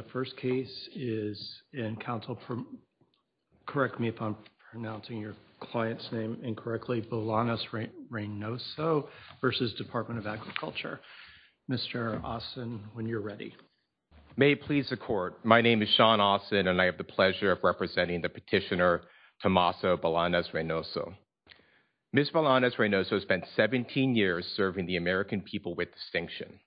May it please the Court, my name is Sean Austin and I have the pleasure of representing the petitioner Tomaso Bolanos-Reynoso. Ms. Bolanos-Reynoso spent 17 years serving the American people with distinction,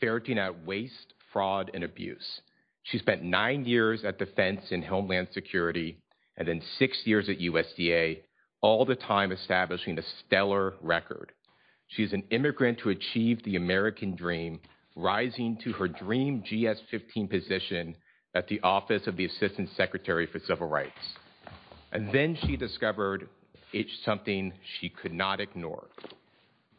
ferreting out waste, fraud, and abuse. She spent nine years at Defense and Homeland Security and then six years at USDA, all the time establishing a stellar record. She is an immigrant who achieved the American dream, rising to her dream GS-15 position at the Office of the Assistant Secretary for Civil Rights. And then she discovered something she could not ignore.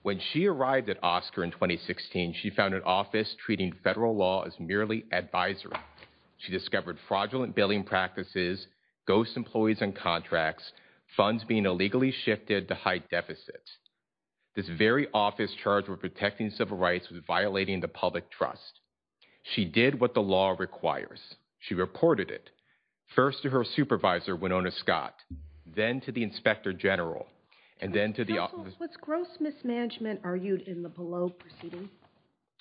When she arrived at OSCQR in 2016, she found an office treating federal law as merely advisory. She discovered fraudulent billing practices, ghost employees and contracts, funds being illegally shifted to hide deficits. This very office charged with protecting civil rights was violating the public trust. She did what the law requires. She reported it. First to her supervisor, Winona Scott, then to the Inspector General, and then to the Was gross mismanagement argued in the below proceeding?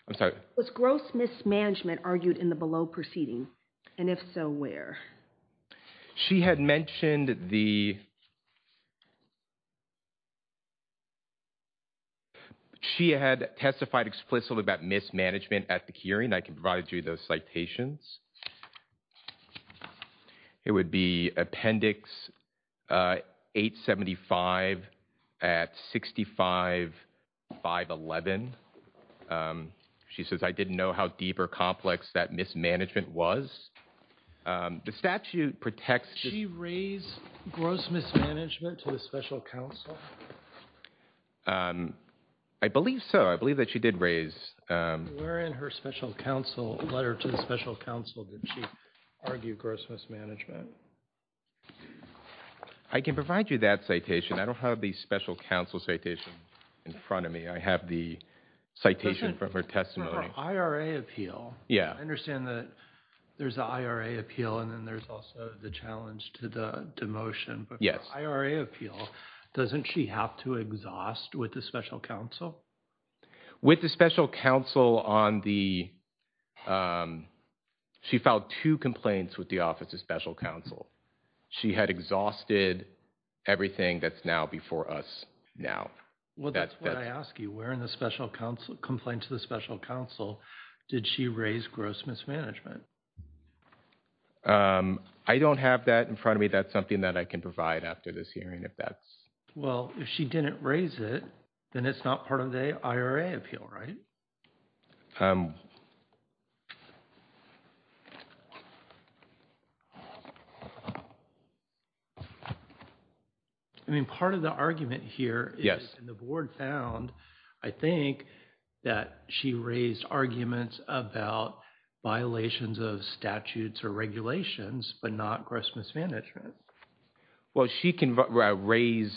I'm sorry. Was gross mismanagement argued in the below proceeding? And if so, where? She had mentioned the... She had testified explicitly about mismanagement at the hearing. I can provide you those citations. It would be Appendix 875 at 65, 511. She says, I didn't know how deep or complex that mismanagement was. The statute protects... Did she raise gross mismanagement to the special counsel? I believe so. I believe that she did raise... Where in her special counsel letter to the special counsel did she argue gross mismanagement? I can provide you that citation. I don't have the special counsel citation in front of me. I have the citation from her testimony. For her IRA appeal, I understand that there's an IRA appeal and then there's also the challenge to the demotion. But for an IRA appeal, doesn't she have to exhaust with the special counsel? With the special counsel on the... She filed two complaints with the Office of Special Counsel. She had exhausted everything that's now before us now. Well, that's what I ask you. Where in the special counsel complaint to the special counsel did she raise gross mismanagement? I don't have that in front of me. That's something that I can provide after this hearing if that's... Well, if she didn't raise it, then it's not part of the IRA appeal, right? I mean, part of the argument here is the board found, I think, that she raised arguments about violations of statutes or regulations, but not gross mismanagement. Well, she can raise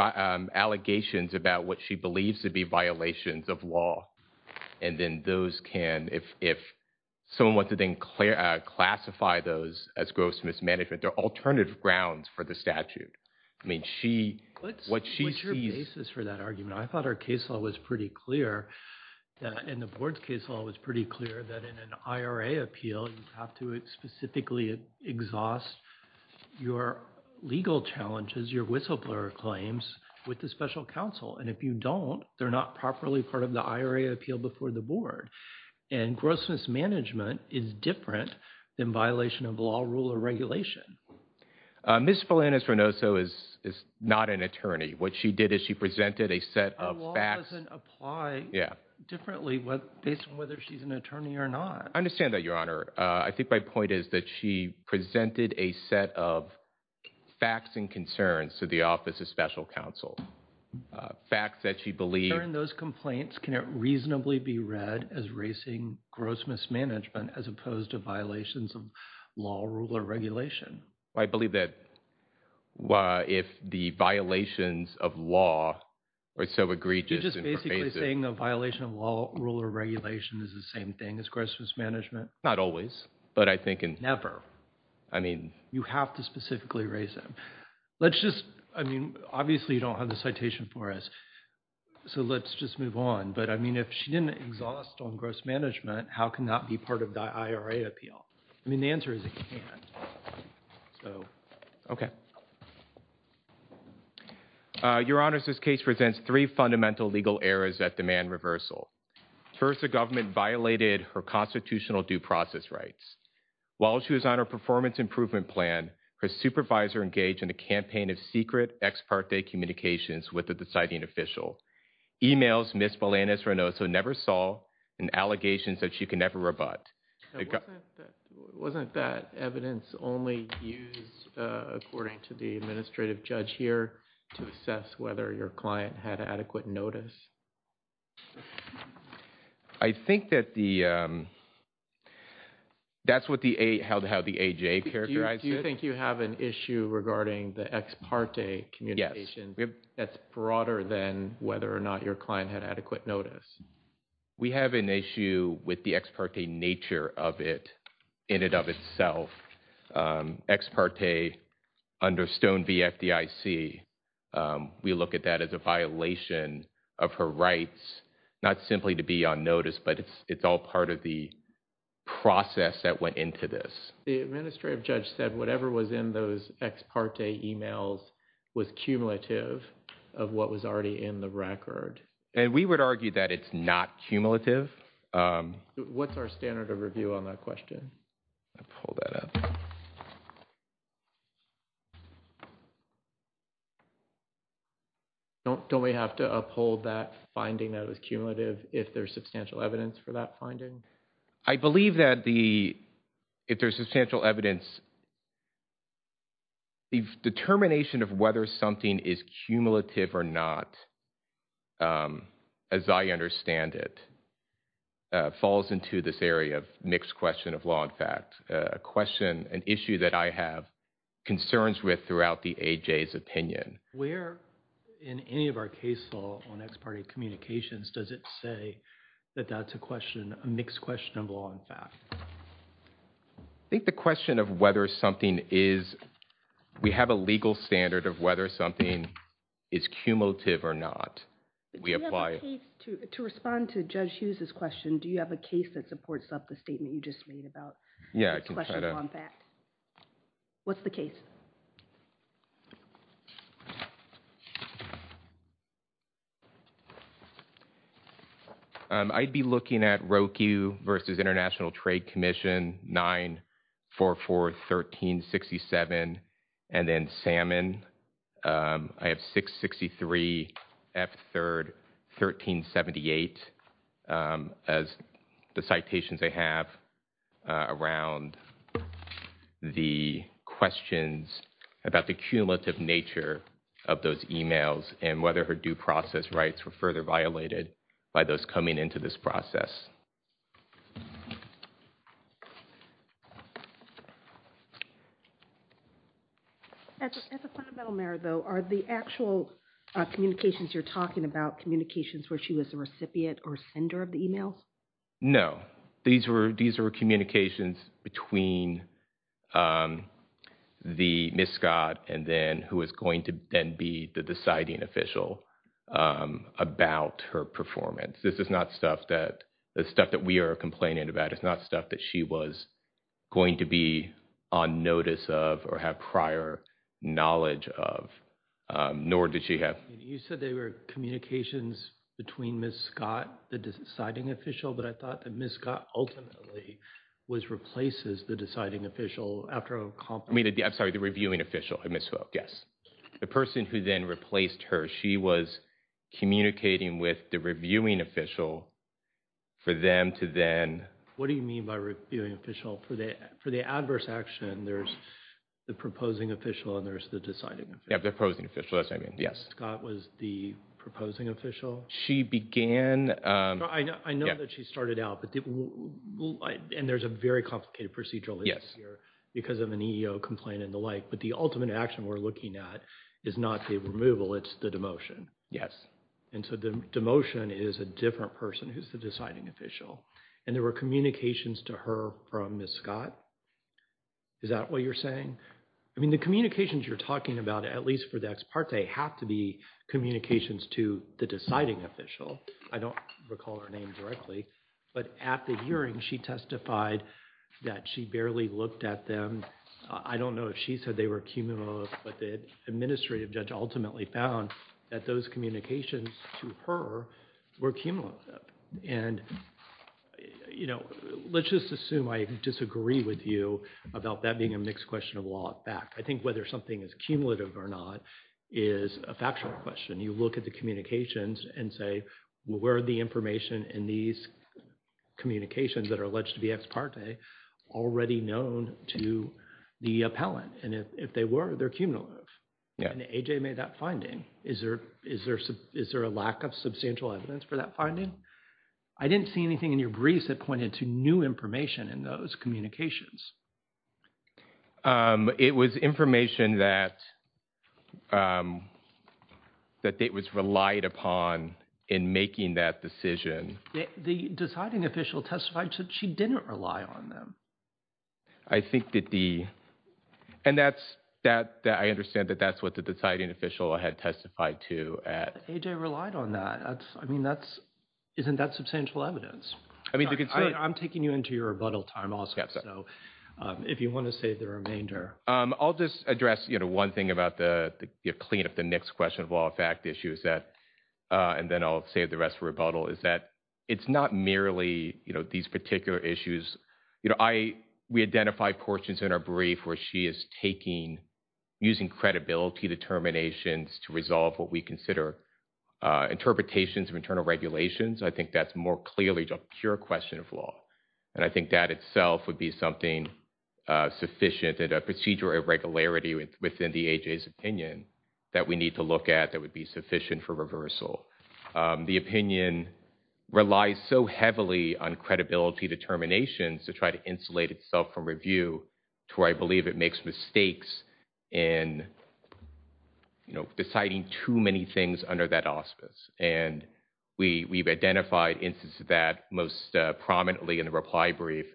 allegations about what she believes to be violations of law, and then those can, if someone wants to then classify those as gross mismanagement, they're alternative grounds for the statute. I mean, she... What's your basis for that argument? I thought her case law was pretty clear, and the board's case law was pretty clear that in an IRA appeal, you have to specifically exhaust your legal challenges, your whistleblower claims with the special counsel, and if you don't, they're not properly part of the IRA appeal before the board, and gross mismanagement is different than violation of law, rule, or regulation. Ms. Felanis-Renoso is not an attorney. What she did is she presented a set of facts... That doesn't apply differently based on whether she's an attorney or not. I understand that, Your Honor. I think my point is that she presented a set of facts and concerns to the Office of Special Counsel. Facts that she believed... During those complaints, can it reasonably be read as raising gross mismanagement as opposed to violations of law, rule, or regulation? I believe that if the violations of law are so egregious and pervasive... You're just basically saying a violation of law, rule, or regulation is the same thing as gross mismanagement? Not always, but I think... Never. I mean... You have to specifically raise them. Let's just... I mean, obviously, you don't have the citation for us, so let's just move on, but I mean, if she didn't exhaust on gross management, how can that be part of the IRA appeal? I mean, the answer is it can't. So... Your Honors, this case presents three fundamental legal errors that demand reversal. First, the government violated her constitutional due process rights. While she was on her performance improvement plan, her supervisor engaged in a campaign of secret ex parte communications with the deciding official. Emails Ms. Melanis-Renoso never saw and allegations that she can never rebut. Wasn't that evidence only used, according to the administrative judge here, to assess whether your client had adequate notice? I think that the... That's what the... How the AJ characterized it. Do you think you have an issue regarding the ex parte communication that's broader than whether or not your client had adequate notice? We have an issue with the ex parte nature of it in and of itself. Ex parte under Stone v. FDIC, we look at that as a violation of her rights, not simply to be on notice, but it's all part of the process that went into this. The administrative judge said whatever was in those ex parte emails was cumulative of what was already in the record. And we would argue that it's not cumulative. What's our standard of review on that question? I'll pull that up. Don't we have to uphold that finding that it was cumulative if there's substantial evidence for that finding? I believe that if there's substantial evidence, the determination of whether something is cumulative or not, as I understand it, falls into this area of mixed question of law and A question, an issue that I have concerns with throughout the AJ's opinion. Where in any of our case law on ex parte communications does it say that that's a question, a mixed question of law and fact? I think the question of whether something is, we have a legal standard of whether something is cumulative or not. We apply. To respond to Judge Hughes' question, do you have a case that supports up the statement you just made about mixed question of law and fact? What's the case? I'd be looking at Roku versus International Trade Commission 9441367 and then Salmon. I have 663F1378 as the citations I have around the questions about the cumulative nature of those emails and whether her due process rights were further violated by those coming into this process. As a fundamental matter, though, are the actual communications you're talking about communications where she was a recipient or sender of the emails? No. These were, these were communications between the Ms. Scott and then who is going to then be the deciding official about her performance. This is not stuff that, the stuff that we are complaining about, it's not stuff that she was going to be on notice of or have prior knowledge of, nor did she have. You said they were communications between Ms. Scott, the deciding official, but I thought that Ms. Scott ultimately was, replaces the deciding official after a conference. I'm sorry, the reviewing official, Ms. Hook, yes. The person who then replaced her, she was communicating with the reviewing official for them to then... What do you mean by reviewing official? For the adverse action, there's the proposing official and there's the deciding official. Yeah, the opposing official, that's what I mean, yes. Ms. Scott was the proposing official? She began... I know that she started out, and there's a very complicated procedural issue here because of an EEO complaint and the like, but the ultimate action we're looking at is not the removal, it's the demotion. Yes. And so the demotion is a different person who's the deciding official. And there were communications to her from Ms. Scott? Is that what you're saying? I mean, the communications you're talking about, at least for the ex parte, have to be communications to the deciding official. I don't recall her name directly, but at the hearing, she testified that she barely looked at them. I don't know if she said they were cumulative, but the administrative judge ultimately found that those communications to her were cumulative. And let's just assume I disagree with you about that being a mixed question of law at I think whether something is cumulative or not is a factual question. You look at the communications and say, well, where are the information in these communications that are alleged to be ex parte already known to the appellant? And if they were, they're cumulative. And AJ made that finding. Is there a lack of substantial evidence for that finding? I didn't see anything in your briefs that pointed to new information in those communications. It was information that was relied upon in making that decision. The deciding official testified that she didn't rely on them. I think that the, and that's, I understand that that's what the deciding official had testified to at. AJ relied on that. I mean, that's, isn't that substantial evidence? I'm taking you into your rebuttal time also, so if you want to save the remainder. I'll just address, you know, one thing about the clean up the mixed question of law fact issue is that, and then I'll save the rest for rebuttal, is that it's not merely, you know, these particular issues. You know, I, we identify portions in our brief where she is taking, using credibility determinations to resolve what we consider interpretations of internal regulations. I think that's more clearly a pure question of law. And I think that itself would be something sufficient and a procedure of regularity within the AJ's opinion that we need to look at that would be sufficient for reversal. The opinion relies so heavily on credibility determinations to try to insulate itself from review to where I believe it makes mistakes in, you know, deciding too many things under that auspice. And we, we've identified instances of that most prominently in the reply brief.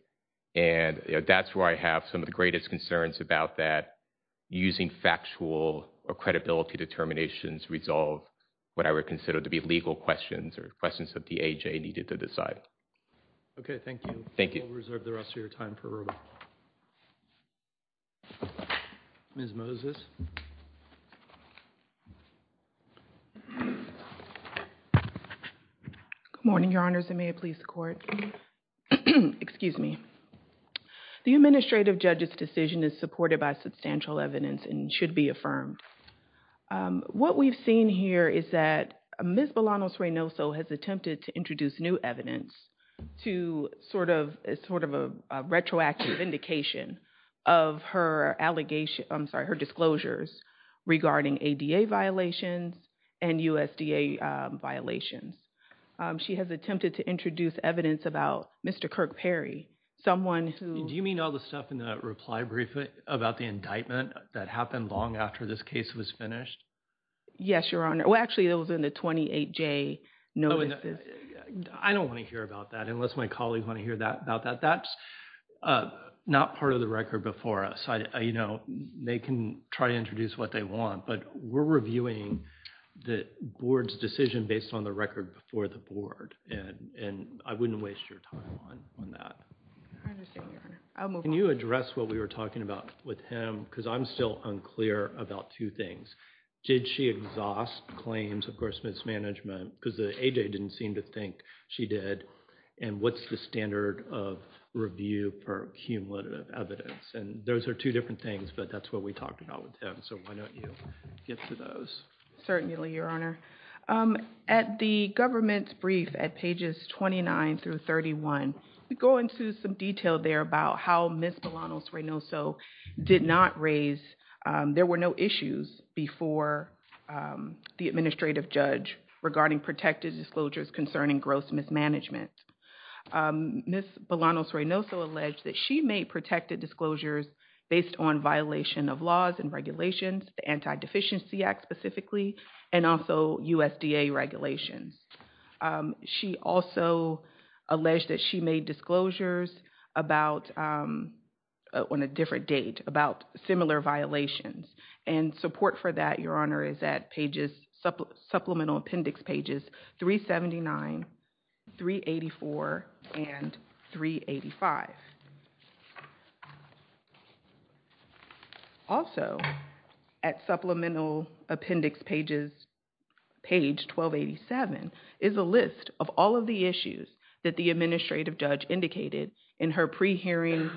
And, you know, that's where I have some of the greatest concerns about that, using factual or credibility determinations to resolve what I would consider to be legal questions or questions that the AJ needed to decide. Okay. Thank you. Thank you. We'll reserve the rest of your time for rebuttal. Ms. Moses. Good morning, Your Honors. And may it please the Court. Excuse me. The administrative judge's decision is supported by substantial evidence and should be affirmed. What we've seen here is that Ms. Bolanos-Reynoso has attempted to introduce new evidence to sort of, sort of a retroactive indication of her allegations, I'm sorry, her disclosures regarding ADA violations and USDA violations. She has attempted to introduce evidence about Mr. Kirk Perry, someone who... Do you mean all the stuff in the reply brief about the indictment that happened long after this case was finished? Yes, Your Honor. Well, actually, it was in the 28J notices. I don't want to hear about that unless my colleagues want to hear about that. That's not part of the record before us. You know, they can try to introduce what they want, but we're reviewing the Board's decision based on the record before the Board, and I wouldn't waste your time on that. I understand, Your Honor. I'll move on. Can you address what we were talking about with him? Because I'm still unclear about two things. Did she exhaust claims of gross mismanagement because the ADA didn't seem to think she did? And what's the standard of review for cumulative evidence? And those are two different things, but that's what we talked about with him, so why don't you get to those? Certainly, Your Honor. At the government's brief at pages 29 through 31, we go into some detail there about how Ms. Belanos-Reynoso did not raise... there were no issues before the administrative judge regarding protected disclosures concerning gross mismanagement. Ms. Belanos-Reynoso alleged that she made protected disclosures based on violation of laws and regulations, the Anti-Deficiency Act specifically, and also USDA regulations. She also alleged that she made disclosures about... on a different date, about similar violations, and support for that, Your Honor, is at pages... supplemental appendix pages 379, 384, and 385. Also, at supplemental appendix pages... page 1287, is a list of all of the issues that the administrative judge indicated in her pre-hearing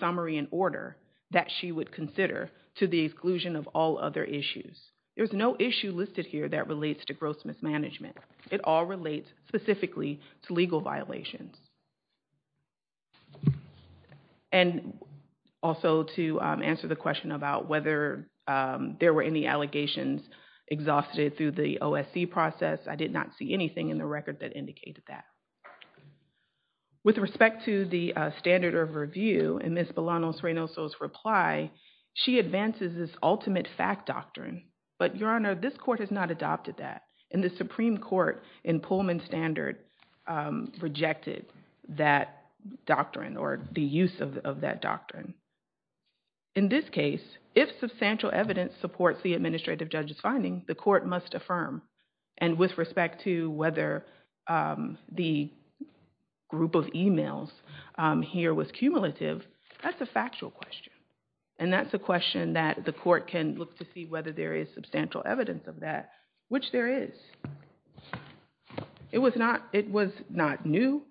summary and order that she would consider to the exclusion of all other issues. There's no issue listed here that relates to gross mismanagement. It all relates specifically to legal violations. And also, to answer the question about whether there were any allegations exhausted through the OSC process, I did not see anything in the record that indicated that. With respect to the standard of review, in Ms. Belanos-Reynoso's reply, she advances this ultimate fact doctrine, but Your Honor, this court has not adopted that, and the Supreme Court, in Pullman's standard, rejected that doctrine, or the use of that doctrine. In this case, if substantial evidence supports the administrative judge's finding, the court must affirm. And with respect to whether the group of emails here was cumulative, that's a factual question. And that's a question that the court can look to see whether there is substantial evidence of that, which there is. It was not new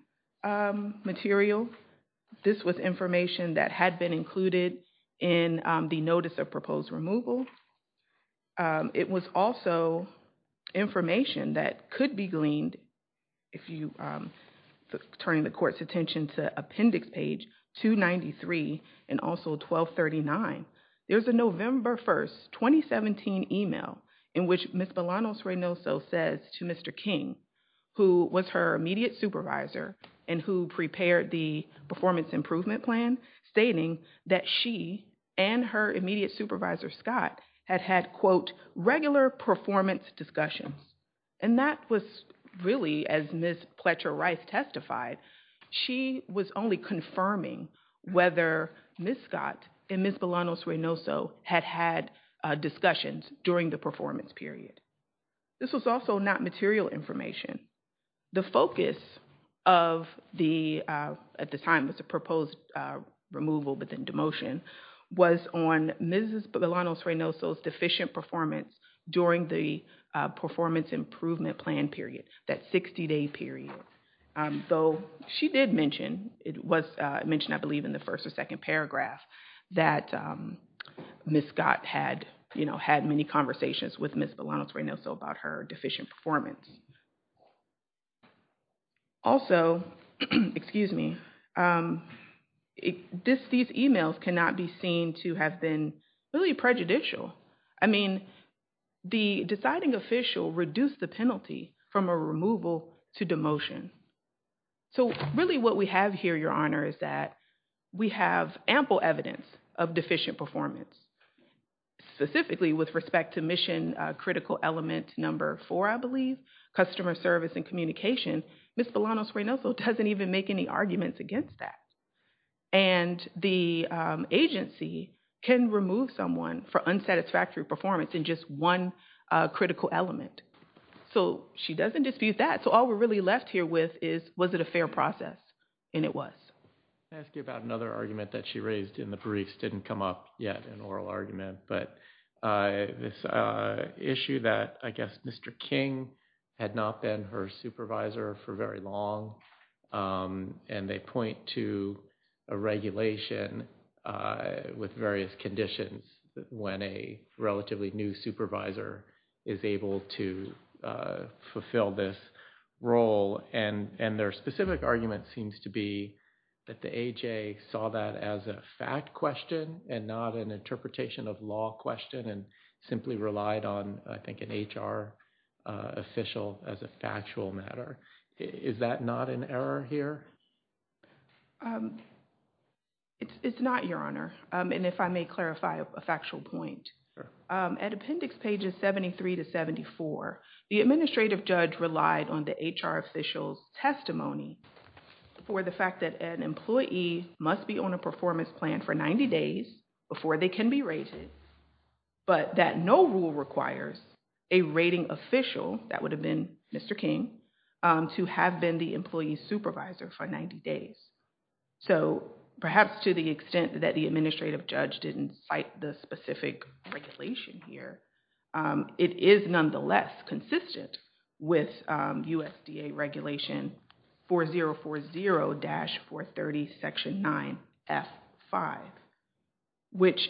material. This was information that had been included in the notice of proposed removal. It was also information that could be gleaned if you turn the court's attention to Appendix Page 293 and also 1239. There's a November 1st, 2017 email in which Ms. Belanos-Reynoso says to Mr. King, who was her immediate supervisor and who prepared the performance improvement plan, stating that she and her immediate supervisor, Scott, had had, quote, regular performance discussions. And that was really, as Ms. Pletcher-Rice testified, she was only confirming whether Ms. Scott and Ms. Belanos-Reynoso had had discussions during the performance period. This was also not material information. The focus of the, at the time it was a proposed removal but then demotion, was on Ms. Belanos-Reynoso's deficient performance during the performance improvement plan period, that 60-day period. Though she did mention, it was mentioned, I believe, in the first or second paragraph that Ms. Scott had, you know, had many conversations with Ms. Belanos-Reynoso about her deficient performance. Also, excuse me, these emails cannot be seen to have been really prejudicial. I mean, the deciding official reduced the penalty from a removal to demotion. So really what we have here, Your Honor, is that we have ample evidence of deficient performance. Specifically, with respect to mission critical element number four, I believe, customer service and communication, Ms. Belanos-Reynoso doesn't even make any arguments against that. And the agency can remove someone for unsatisfactory performance in just one critical element. So she doesn't dispute that. So all we're really left here with is, was it a fair process? And it was. Can I ask you about another argument that she raised in the briefs, didn't come up yet in oral argument, but this issue that, I guess, Mr. King had not been her supervisor for very long. And they point to a regulation with various conditions when a relatively new supervisor is able to fulfill this role. And their specific argument seems to be that the AJ saw that as a fact question and not an interpretation of law question and simply relied on, I think, an HR official as a factual matter. Is that not an error here? It's not, Your Honor. And if I may clarify a factual point. At appendix pages 73 to 74, the administrative judge relied on the HR official's testimony for the fact that an employee must be on a performance plan for 90 days before they can be rated, but that no rule requires a rating official, that would have been Mr. King, to have been the employee's supervisor for 90 days. So perhaps to the extent that the administrative judge didn't cite the specific regulation here, it is nonetheless consistent with USDA regulation 4040-430, section 9, F5, which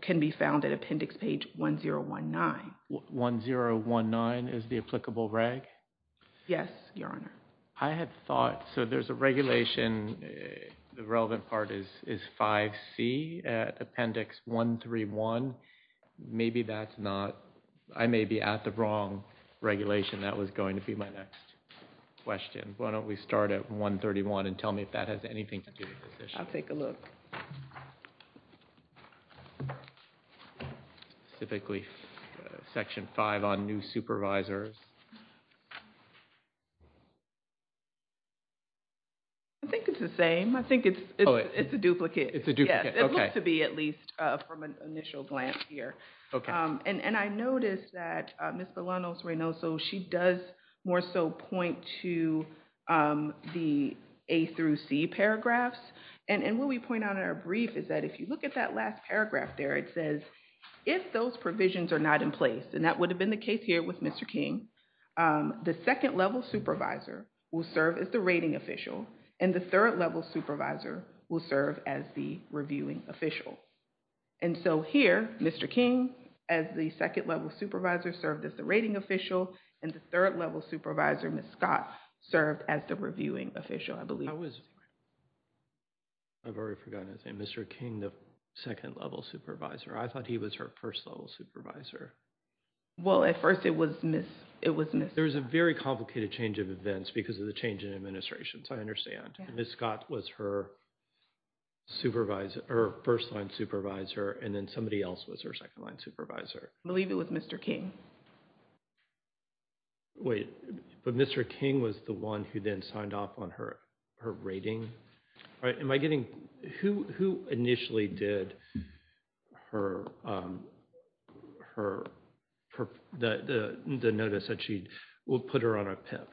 can be found at appendix page 1019. 1019 is the applicable reg? Yes, Your Honor. I had thought, so there's a regulation, the relevant part is 5C at appendix 131. Maybe that's not, I may be at the wrong regulation. That was going to be my next question. Why don't we start at 131 and tell me if that has anything to do with this issue. I'll take a look. Specifically, section 5 on new supervisors. I think it's the same. I think it's a duplicate. It's a duplicate, okay. Yes, it looks to be at least from an initial glance here. And I noticed that Ms. Belanos-Reynoso, she does more so point to the A through C paragraphs, and what we point out in our brief is that if you look at that last paragraph there, it says, if those provisions are not in place, and that would have been the case here with Mr. King, the second level supervisor will serve as the rating official, and the third level supervisor will serve as the reviewing official. And so here, Mr. King, as the second level supervisor served as the rating official, and the third level supervisor, Ms. Scott, served as the reviewing official, I believe. I was, I've already forgotten his name, Mr. King, the second level supervisor. I thought he was her first level supervisor. Well, at first, it was Ms., it was Ms. Scott. There was a very complicated change of events because of the change in administrations, I understand. Ms. Scott was her supervisor, her first line supervisor, and then somebody else was her second line supervisor. I believe it was Mr. King. Wait, but Mr. King was the one who then signed off on her rating? Am I getting, who initially did her, the notice that she, put her on a PIP?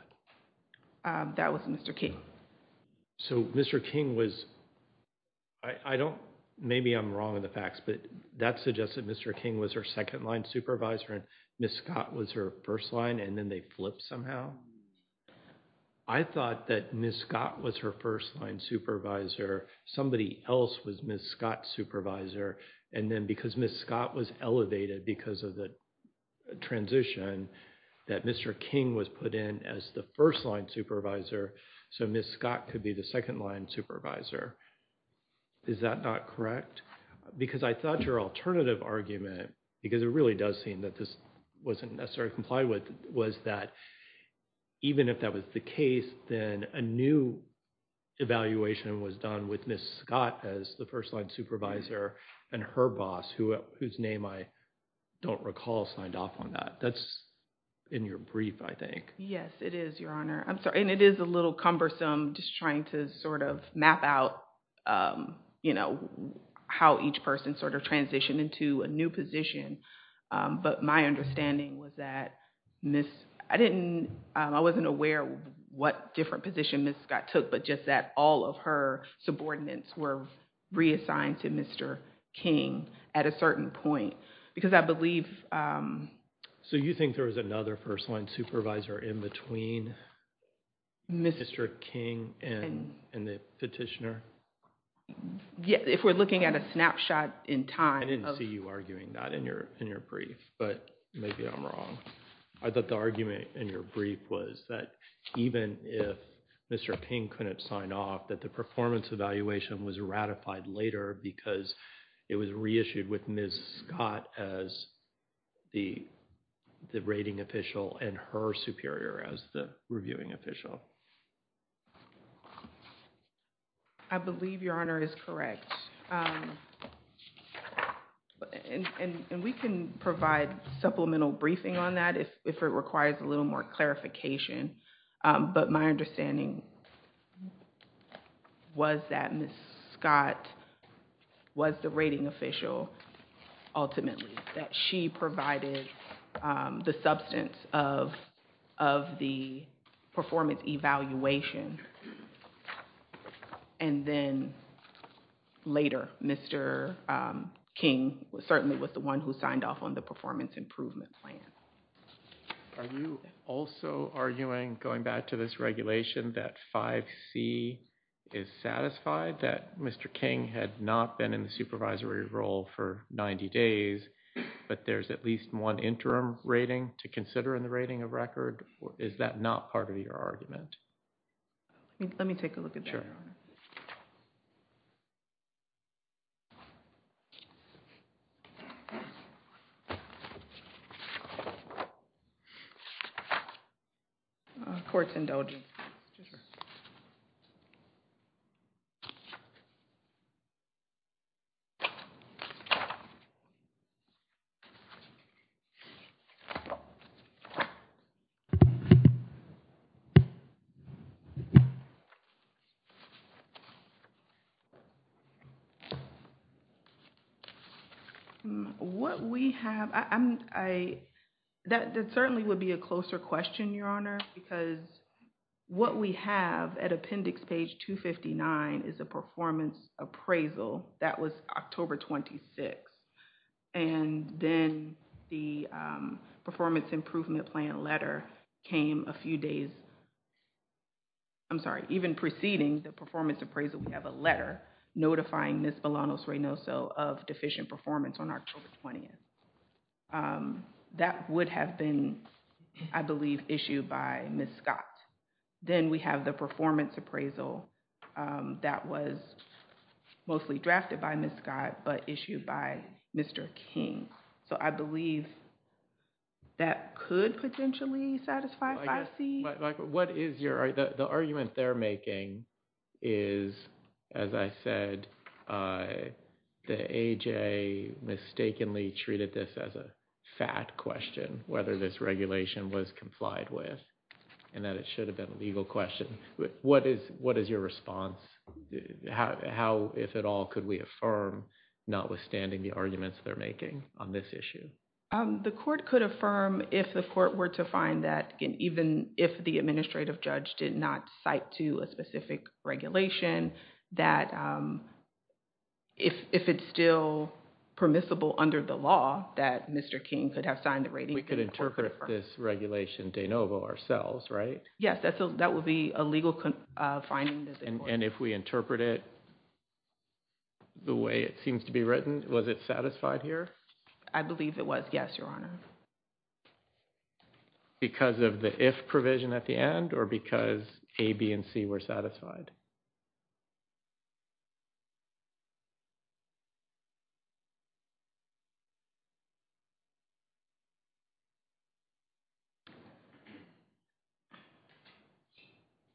That was Mr. King. So Mr. King was, I don't, maybe I'm wrong in the facts, but that suggests that Mr. King was her second line supervisor and Ms. Scott was her first line and then they flipped somehow. I thought that Ms. Scott was her first line supervisor. Somebody else was Ms. Scott's supervisor. And then because Ms. Scott was elevated because of the transition, that Mr. King was put in as the first line supervisor, so Ms. Scott could be the second line supervisor. Is that not correct? Because I thought your alternative argument, because it really does seem that this wasn't necessarily complied with, was that even if that was the case, then a new evaluation was done with Ms. Scott as the first line supervisor and her boss, whose name I don't recall, signed off on that. That's in your brief, I think. Yes, it is, Your Honor. I'm sorry. And it is a little cumbersome just trying to sort of map out, you know, how each person sort of transitioned into a new position. But my understanding was that Ms., I didn't, I wasn't aware what different position Ms. Scott took, but just that all of her subordinates were reassigned to Mr. King at a certain point. Because I believe. So you think there was another first line supervisor in between Mr. King and the petitioner? If we're looking at a snapshot in time. I didn't see you arguing that in your brief, but maybe I'm wrong. I thought the argument in your brief was that even if Mr. King couldn't sign off, that the performance evaluation was ratified later because it was reissued with Ms. Scott as the rating official and her superior as the reviewing official. I believe Your Honor is correct. And we can provide supplemental briefing on that if it requires a little more clarification. But my understanding was that Ms. Scott was the rating official ultimately. That she provided the substance of the performance evaluation and then later Mr. King certainly was the one who signed off on the performance improvement plan. Are you also arguing, going back to this regulation, that 5C is satisfied that Mr. King had not been in the supervisory role for 90 days, but there's at least one interim rating to consider in the rating of record? Is that not part of your argument? Let me take a look at that, Your Honor. Court's indulging. What we have. I that certainly would be a closer question, Your Honor, because what we have at Appendix page 259 is a performance appraisal. That was October 26 and then the performance improvement plan letter came a few days. I'm sorry, even preceding the performance appraisal, we have a letter notifying this of deficient performance on October 20th. That would have been, I believe, issued by Ms. Scott. Then we have the performance appraisal that was mostly drafted by Ms. Scott, but issued by Mr. King. So I believe that could potentially satisfy 5C. The argument they're making is, as I said, the AJA mistakenly treated this as a fat question, whether this regulation was complied with and that it should have been a legal question. What is your response? How, if at all, could we affirm, notwithstanding the arguments they're making on this issue? The court could affirm if the court were to find that, even if the administrative judge did not cite to a specific regulation, that if it's still permissible under the law, that Mr. King could have signed the rating. We could interpret this regulation de novo ourselves, right? Yes, that would be a legal finding. And if we interpret it the way it seems to be written, was it satisfied here? I believe it was, yes, Your Honor. Because of the if provision at the end, or because A, B, and C were satisfied?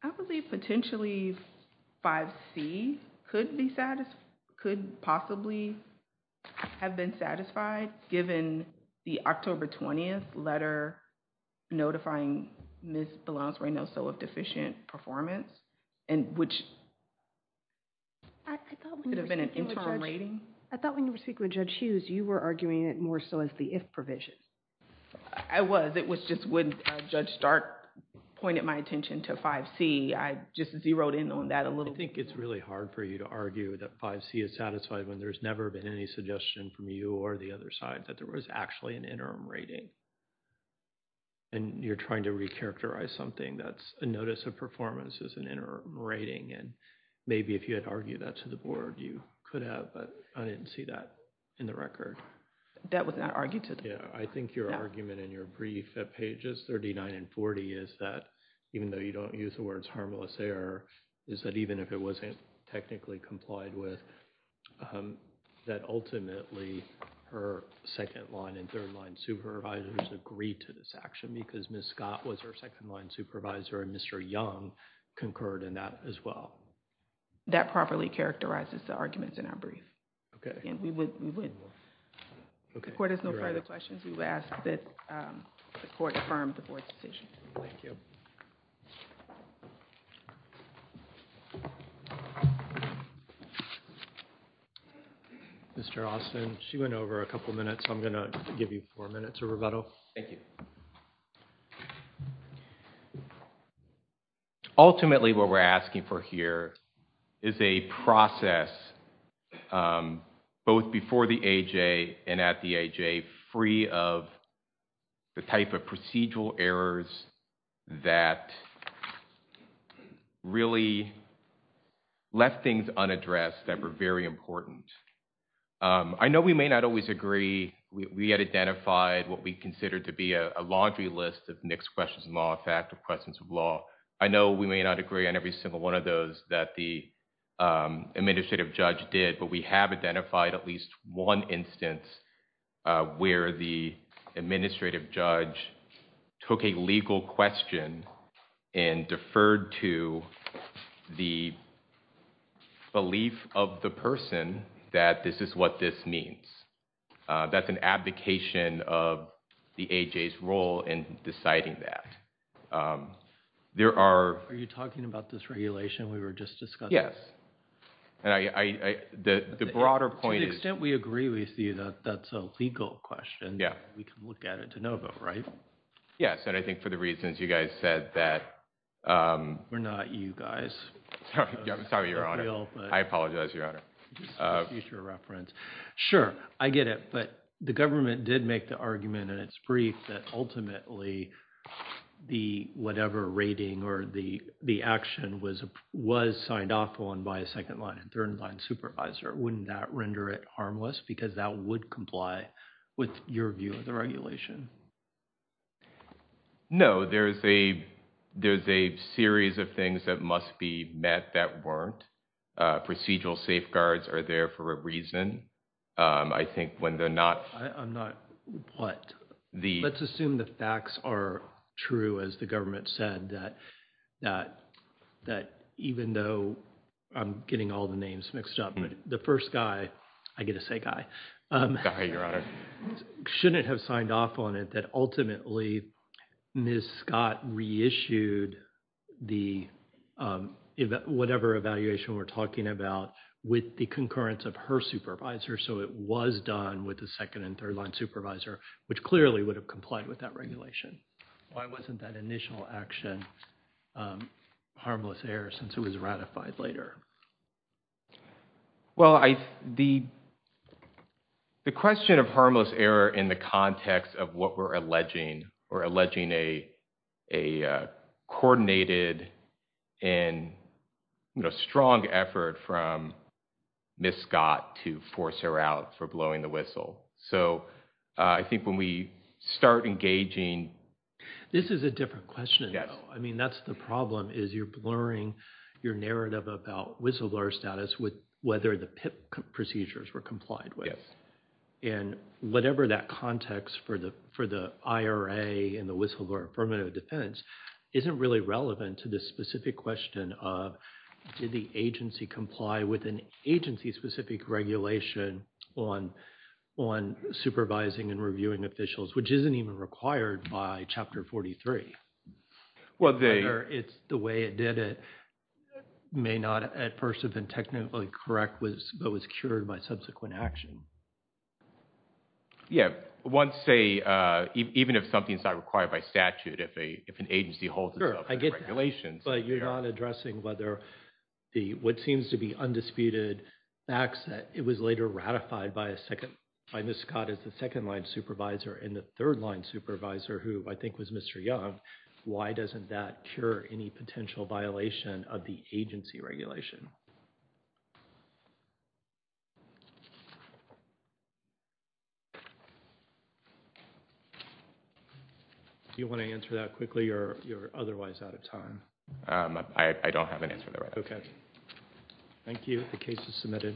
I believe potentially 5C could possibly have been satisfied, given the October 20th letter notifying Ms. Belans-Reynolds of deficient performance, and which... I thought when you were speaking with Judge Hughes, you were arguing it more so as the if provision. I was. It was just when Judge Stark pointed my attention to 5C, I just zeroed in on that a little. I think it's really hard for you to argue that 5C is satisfied when there's never been any suggestion from you or the other side that there was actually an interim rating. And you're trying to recharacterize something that's a notice of performance as an interim rating, and maybe if you had argued that to the Board, you could have, but I didn't see that in the record. That was not argued to the Board. Yeah, I think your argument in your brief at pages 39 and 40 is that, even though you don't use the words harmless error, is that even if it wasn't technically complied with, that ultimately her second-line and third-line supervisors agreed to this action because Ms. Scott was her second-line supervisor and Mr. Young concurred in that as well. That properly characterizes the arguments in our brief. Okay. And we would... Okay. The Court has no further questions. We will ask that the Court affirm the Board's decision. Thank you. Mr. Austin, she went over a couple of minutes, so I'm going to give you four minutes of rebuttal. Thank you. Ultimately, what we're asking for here is a process both before the AJ and at the AJ free of the type of procedural errors that really left things unaddressed that were very important. I know we may not always agree. We had identified what we considered to be a laundry list of mixed questions of law, effective questions of law. I know we may not agree on every single one of those that the administrative judge did, but we have identified at least one instance where the administrative judge took a legal question and deferred to the belief of the person that this is what this means. That's an abdication of the AJ's role in deciding that. There are... Are you talking about this regulation we were just discussing? Yes. The broader point is... To the extent we agree with you that that's a legal question, we can look at it de novo, right? Yes, and I think for the reasons you guys said that... We're not you guys. I'm sorry, Your Honor. I apologize, Your Honor. Future reference. Sure, I get it, but the government did make the argument in its brief that ultimately whatever rating or the action was signed off on by a second line and third line supervisor. Wouldn't that render it harmless because that would comply with your view of the regulation? No, there's a series of things that must be met that weren't. Procedural safeguards are there for a reason. I think when they're not... I'm not what? Let's assume the facts are true, as the government said, that even though... I'm getting all the names mixed up, but the first guy... I get to say guy. Guy, Your Honor. Shouldn't have signed off on it that ultimately Ms. Scott reissued the... Whatever evaluation we're talking about with the concurrence of her supervisor. So it was done with a second and third line supervisor, which clearly would have complied with that regulation. Why wasn't that initial action harmless error since it was ratified later? Well, the question of harmless error in the context of what we're alleging, or alleging a coordinated and strong effort from Ms. Scott to force her out for blowing the whistle. So I think when we start engaging... This is a different question, though. I mean, that's the problem is you're blurring your narrative about whistleblower status with whether the PIP procedures were complied with. And whatever that context for the IRA and the whistleblower affirmative defense isn't really relevant to this specific question of did the agency comply with an agency-specific regulation on supervising and reviewing officials, which isn't even required by Chapter 43. Whether it's the way it did it may not at first have been technically correct, but was cured by subsequent action. Yeah. One say, even if something's not required by statute, if an agency holds itself to the regulations. But you're not addressing whether what seems to be undisputed facts that it was later ratified by Ms. Scott as the second-line supervisor and the third-line supervisor, who I think was Mr. Young, why doesn't that cure any potential violation of the agency regulation? Do you want to answer that quickly or you're otherwise out of time? I don't have an answer there right now. Okay. Thank you. The case is submitted.